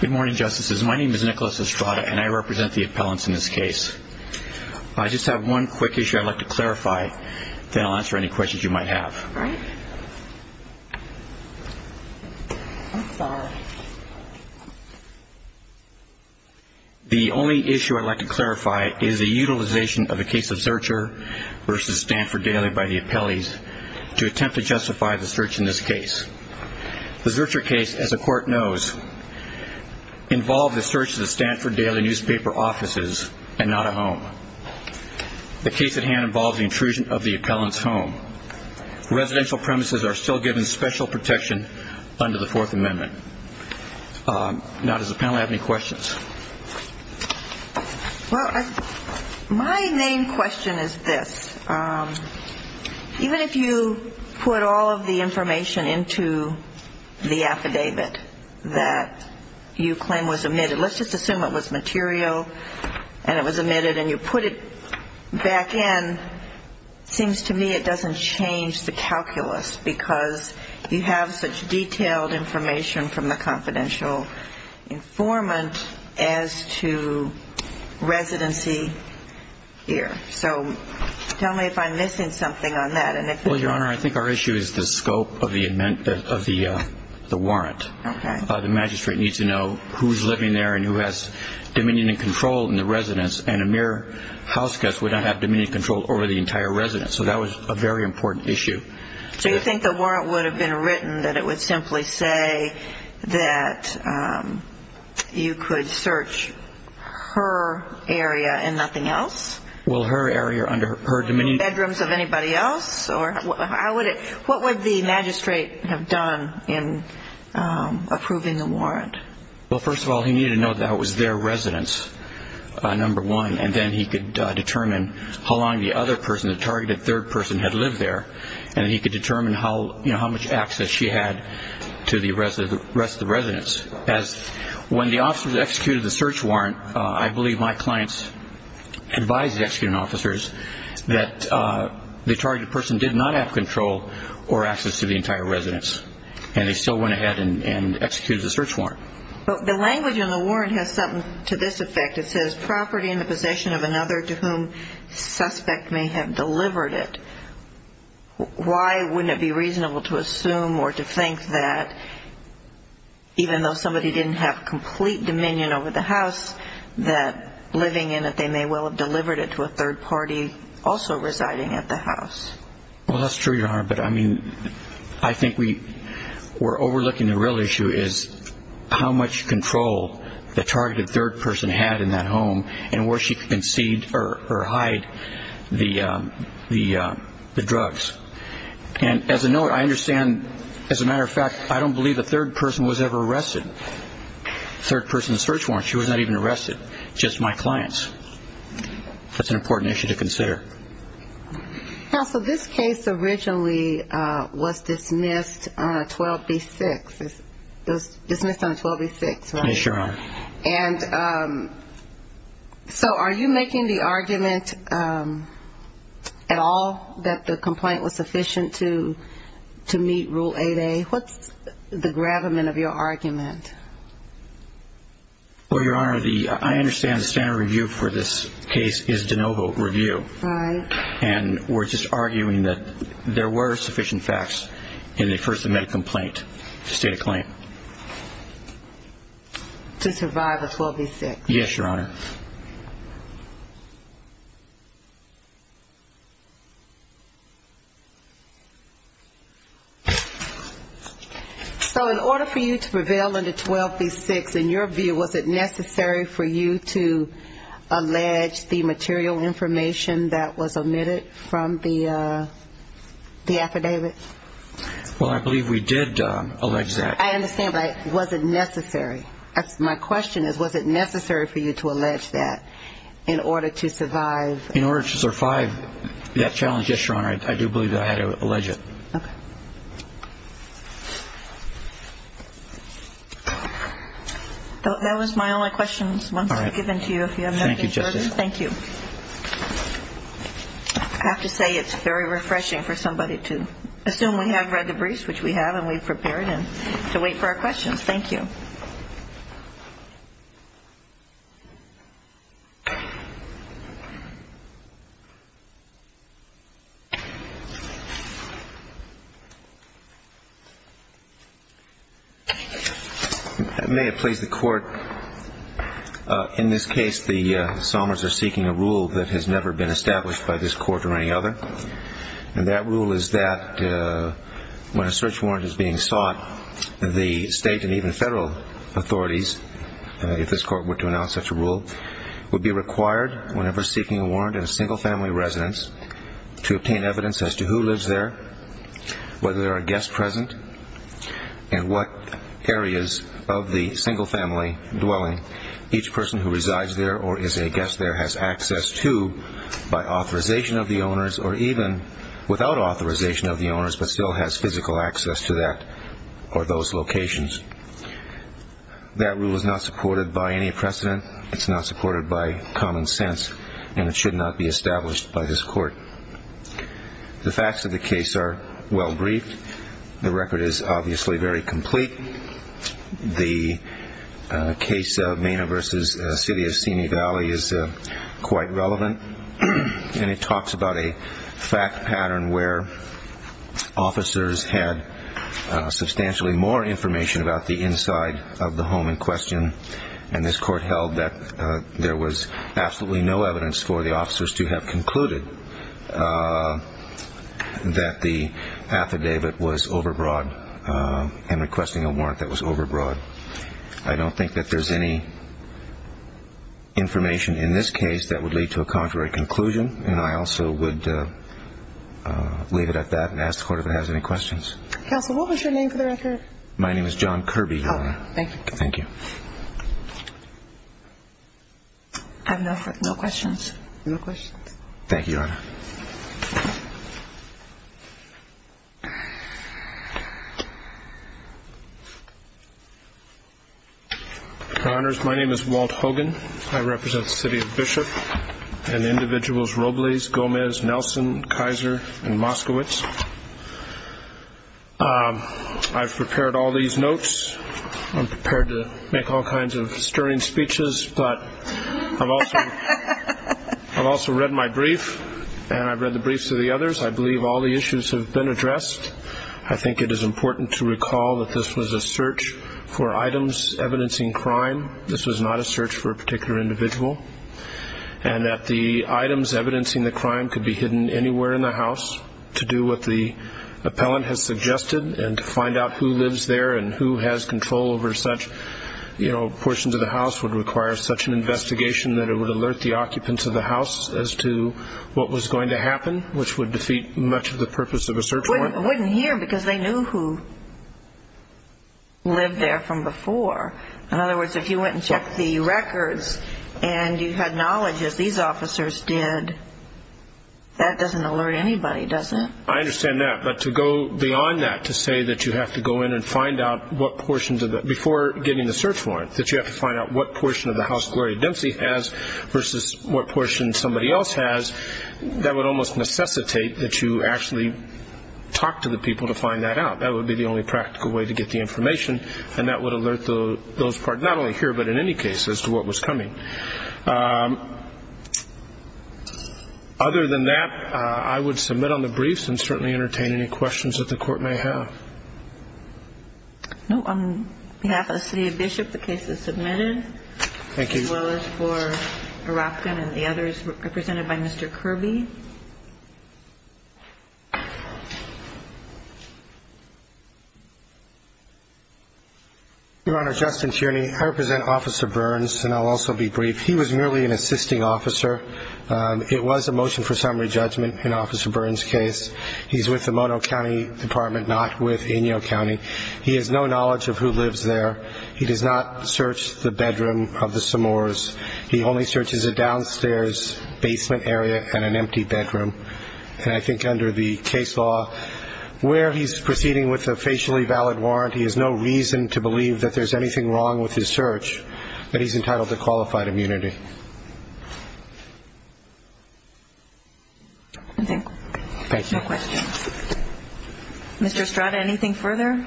Good morning, Justices. My name is Nicholas Estrada, and I represent the appellants in this case. I just have one quick issue I'd like to clarify, then I'll answer any questions you might have. The only issue I'd like to clarify is the utilization of a case of Zurcher v. Stanford Daily by the appellees to attempt to justify the search in this case. The Zurcher case, as the Court knows, involved the search of the Stanford Daily newspaper offices and not a home. The case at hand involves the intrusion of the appellant's home. Residential premises are still given special protection under the Fourth Amendment. Now, does the panel have any questions? Well, my main question is this. Even if you put all of the information into the affidavit that you claim was omitted, let's just assume it was material and it was omitted, and you put it back in, it seems to me it doesn't change the calculus, because you have such detailed information from the confidential informant as to residency here. So tell me if I'm missing something on that. Well, Your Honor, I think our issue is the scope of the warrant. The magistrate needs to know who's living there and who has dominion and control in the residence, and a mere houseguest would not have dominion and control over the entire residence. So that was a very important issue. So you think the warrant would have been written that it would simply say that you could search her area and nothing else? Well, her area under her dominion. Bedrooms of anybody else? What would the magistrate have done in approving the warrant? Well, first of all, he needed to know that it was their residence, number one, and then he could determine how long the other person, the targeted third person, had lived there, and he could determine how much access she had to the rest of the residence. When the officers executed the search warrant, I believe my clients advised the executing officers that the targeted person did not have control or access to the entire residence, and they still went ahead and executed the search warrant. But the language on the warrant has something to this effect. It says, property in the possession of another to whom suspect may have delivered it. Why wouldn't it be reasonable to assume or to think that, even though somebody didn't have complete dominion over the house, that living in it they may well have delivered it to a third party also residing at the house? Well, that's true, Your Honor, but I mean I think we're overlooking the real issue is how much control the targeted third person had in that home and where she could concede or hide the drugs. And as a note, I understand, as a matter of fact, I don't believe a third person was ever arrested. The third person in the search warrant, she was not even arrested, just my clients. That's an important issue to consider. Counsel, this case originally was dismissed on a 12B6. It was dismissed on a 12B6, right? Yes, Your Honor. And so are you making the argument at all that the complaint was sufficient to meet Rule 8A? What's the gravamen of your argument? Well, Your Honor, I understand the standard review for this case is de novo review. Right. And we're just arguing that there were sufficient facts in the first amendment complaint to state a claim. To survive a 12B6. Yes, Your Honor. So in order for you to prevail under 12B6, in your view, was it necessary for you to allege the material information that was omitted from the affidavit? Well, I believe we did allege that. I understand, but was it necessary? My question is, was it necessary for you to allege that in order to survive? In order to survive that challenge, yes, Your Honor, I do believe that I had to allege it. That was my only questions once I've given to you, if you have anything further. Thank you, Justice. Thank you. I have to say it's very refreshing for somebody to assume we have read the briefs, which we have, and we've prepared, and to wait for our questions. Thank you. Thank you. May it please the Court, in this case the psalmists are seeking a rule that has never been established by this court or any other. And that rule is that when a search warrant is being sought, the state and even federal authorities, if this court were to announce such a rule, would be required whenever seeking a warrant in a single-family residence to obtain evidence as to who lives there, whether there are guests present, and what areas of the single-family dwelling each person who resides there or is a guest there has access to by authorization of the owners or even without authorization of the owners but still has physical access to that or those locations. That rule is not supported by any precedent. It's not supported by common sense, and it should not be established by this court. The facts of the case are well briefed. The record is obviously very complete. The case of Mena v. City of Siena Valley is quite relevant, and it talks about a fact pattern where officers had substantially more information about the inside of the home in question, and this court held that there was absolutely no evidence for the officers to have concluded that the affidavit was overbroad and requesting a warrant that was overbroad. I don't think that there's any information in this case that would lead to a contrary conclusion, and I also would leave it at that and ask the court if it has any questions. Counsel, what was your name for the record? My name is John Kirby, Your Honor. Thank you. Thank you. I have no questions. No questions. Thank you, Your Honor. Your Honors, my name is Walt Hogan. I represent the City of Bishop and individuals Robles, Gomez, Nelson, Kaiser, and Moskowitz. I've prepared all these notes. I'm prepared to make all kinds of stirring speeches, but I've also read my brief, and I've read the briefs of the others. I believe all the issues have been addressed. I think it is important to recall that this was a search for items evidencing crime. This was not a search for a particular individual, and that the items evidencing the crime could be hidden anywhere in the house. To do what the appellant has suggested and to find out who lives there and who has control over such portions of the house would require such an investigation that it would alert the occupants of the house as to what was going to happen, which would defeat much of the purpose of a search warrant. Wouldn't hear because they knew who lived there from before. In other words, if you went and checked the records and you had knowledge, as these officers did, that doesn't alert anybody, does it? I understand that. But to go beyond that, to say that you have to go in and find out what portions of the – before getting the search warrant, that you have to find out what portion of the house Gloria Dempsey has versus what portion somebody else has, that would almost necessitate that you actually talk to the people to find that out. That would be the only practical way to get the information, and that would alert those – not only here, but in any case, as to what was coming. Other than that, I would submit on the briefs and certainly entertain any questions that the Court may have. No. On behalf of the City of Bishop, the case is submitted. Thank you. As well as for Oropkin and the others represented by Mr. Kirby. Your Honor, Justin Tierney. I represent Officer Burns, and I'll also be brief. He was merely an assisting officer. It was a motion for summary judgment in Officer Burns' case. He's with the Mono County Department, not with Inyo County. He has no knowledge of who lives there. He does not search the bedroom of the Samores. He only searches a downstairs basement area and an empty bedroom. And I think under the case law, where he's proceeding with a facially valid warrant, he has no reason to believe that there's anything wrong with his search, but he's entitled to qualified immunity. Thank you. No questions. Mr. Estrada, anything further?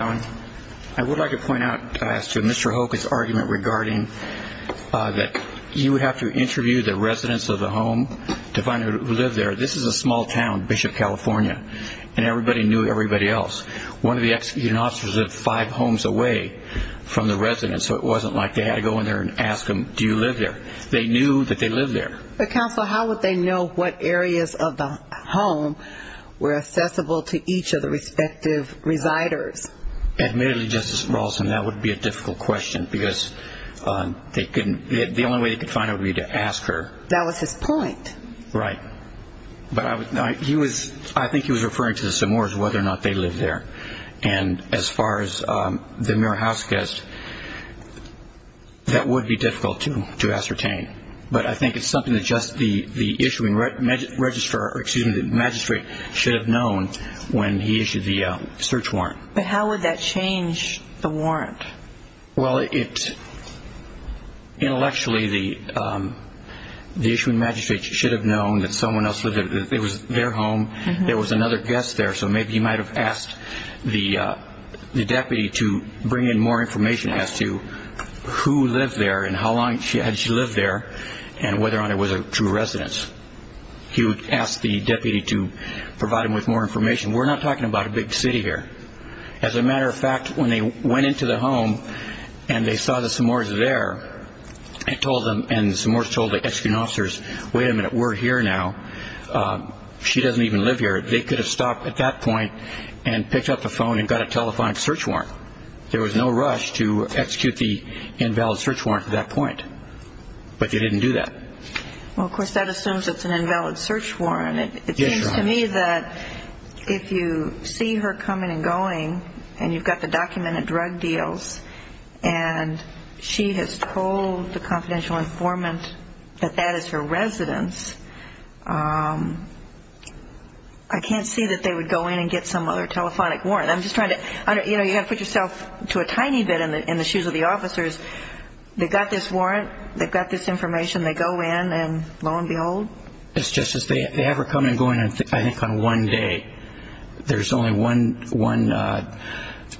I would like to point out to Mr. Hoka's argument regarding that you would have to interview the residents of the home to find out who lived there. This is a small town, Bishop, California, and everybody knew everybody else. One of the executive officers lived five homes away from the residents, so it wasn't like they had to go in there and ask them, do you live there? They knew that they lived there. Counsel, how would they know what areas of the home were accessible to each of the respective residers? Admittedly, Justice Rawlston, that would be a difficult question because the only way they could find out would be to ask her. That was his point. Right. But I think he was referring to the Samores, whether or not they lived there. As far as the mirror house guest, that would be difficult to ascertain. But I think it's something that just the issuing magistrate should have known when he issued the search warrant. But how would that change the warrant? Well, intellectually, the issuing magistrate should have known that someone else lived there. It was their home. There was another guest there, so maybe he might have asked the deputy to bring in more information as to who lived there and how long had she lived there and whether or not it was a true residence. He would ask the deputy to provide him with more information. We're not talking about a big city here. As a matter of fact, when they went into the home and they saw the Samores there and the Samores told the executive officers, wait a minute, we're here now, she doesn't even live here, they could have stopped at that point and picked up the phone and got a telephonic search warrant. There was no rush to execute the invalid search warrant at that point. But they didn't do that. Well, of course, that assumes it's an invalid search warrant. It seems to me that if you see her coming and going and you've got the documented drug deals and she has told the confidential informant that that is her residence, I can't see that they would go in and get some other telephonic warrant. You've got to put yourself to a tiny bit in the shoes of the officers. They've got this warrant. They've got this information. They go in and lo and behold. They have her come and go, I think, on one day. There's only one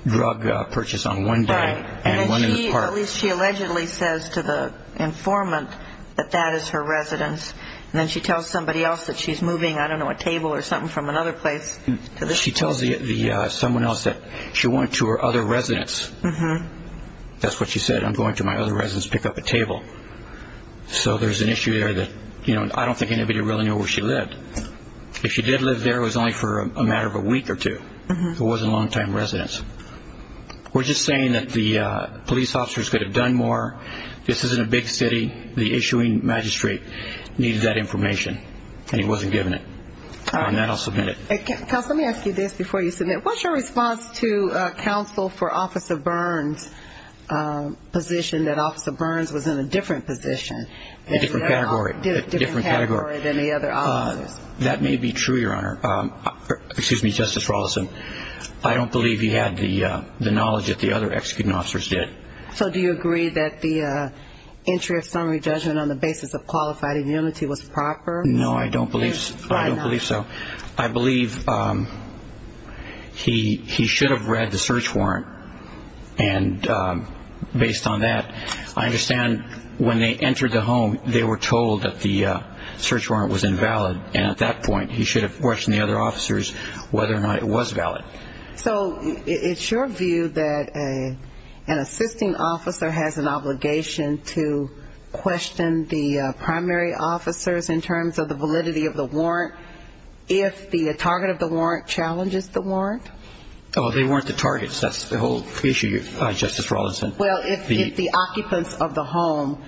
drug purchase on one day. Right. At least she allegedly says to the informant that that is her residence. And then she tells somebody else that she's moving, I don't know, a table or something from another place to this place. She tells someone else that she went to her other residence. That's what she said, I'm going to my other residence to pick up a table. So there's an issue there that I don't think anybody really knew where she lived. If she did live there, it was only for a matter of a week or two. It wasn't a long-time residence. We're just saying that the police officers could have done more. This isn't a big city. The issuing magistrate needed that information and he wasn't given it. On that, I'll submit it. Counsel, let me ask you this before you submit. What's your response to counsel for Officer Burns' position that Officer Burns was in a different position? A different category. Different category than the other officers. That may be true, Your Honor. Excuse me, Justice Rawlinson. I don't believe he had the knowledge that the other executing officers did. So do you agree that the entry of summary judgment on the basis of qualified immunity was proper? No, I don't believe so. I believe he should have read the search warrant. And based on that, I understand when they entered the home, they were told that the search warrant was invalid, and at that point he should have questioned the other officers whether or not it was valid. So it's your view that an assisting officer has an obligation to question the primary officers in terms of the validity of the warrant if the target of the warrant challenges the warrant? Oh, they weren't the targets. That's the whole issue, Justice Rawlinson. Well, if the occupants of the home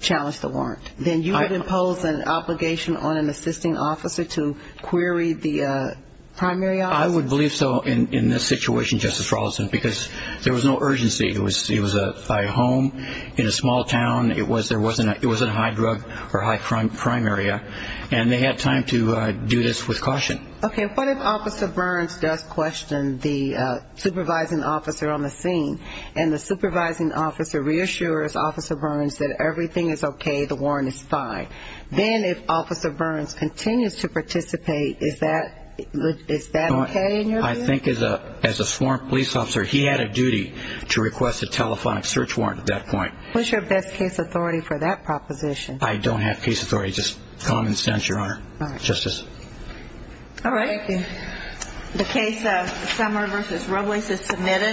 challenged the warrant, then you would impose an obligation on an assisting officer to query the primary officers? I would believe so in this situation, Justice Rawlinson, because there was no urgency. It was a home in a small town. It was a high drug or high crime area, and they had time to do this with caution. Okay, what if Officer Burns does question the supervising officer on the scene, and the supervising officer reassures Officer Burns that everything is okay, the warrant is fine? Then if Officer Burns continues to participate, is that okay in your view? I think as a sworn police officer, he had a duty to request a telephonic search warrant at that point. Who's your best case authority for that proposition? I don't have case authority, just common sense, Your Honor. All right. Justice. All right. Thank you. The case of Summer v. Robles is submitted.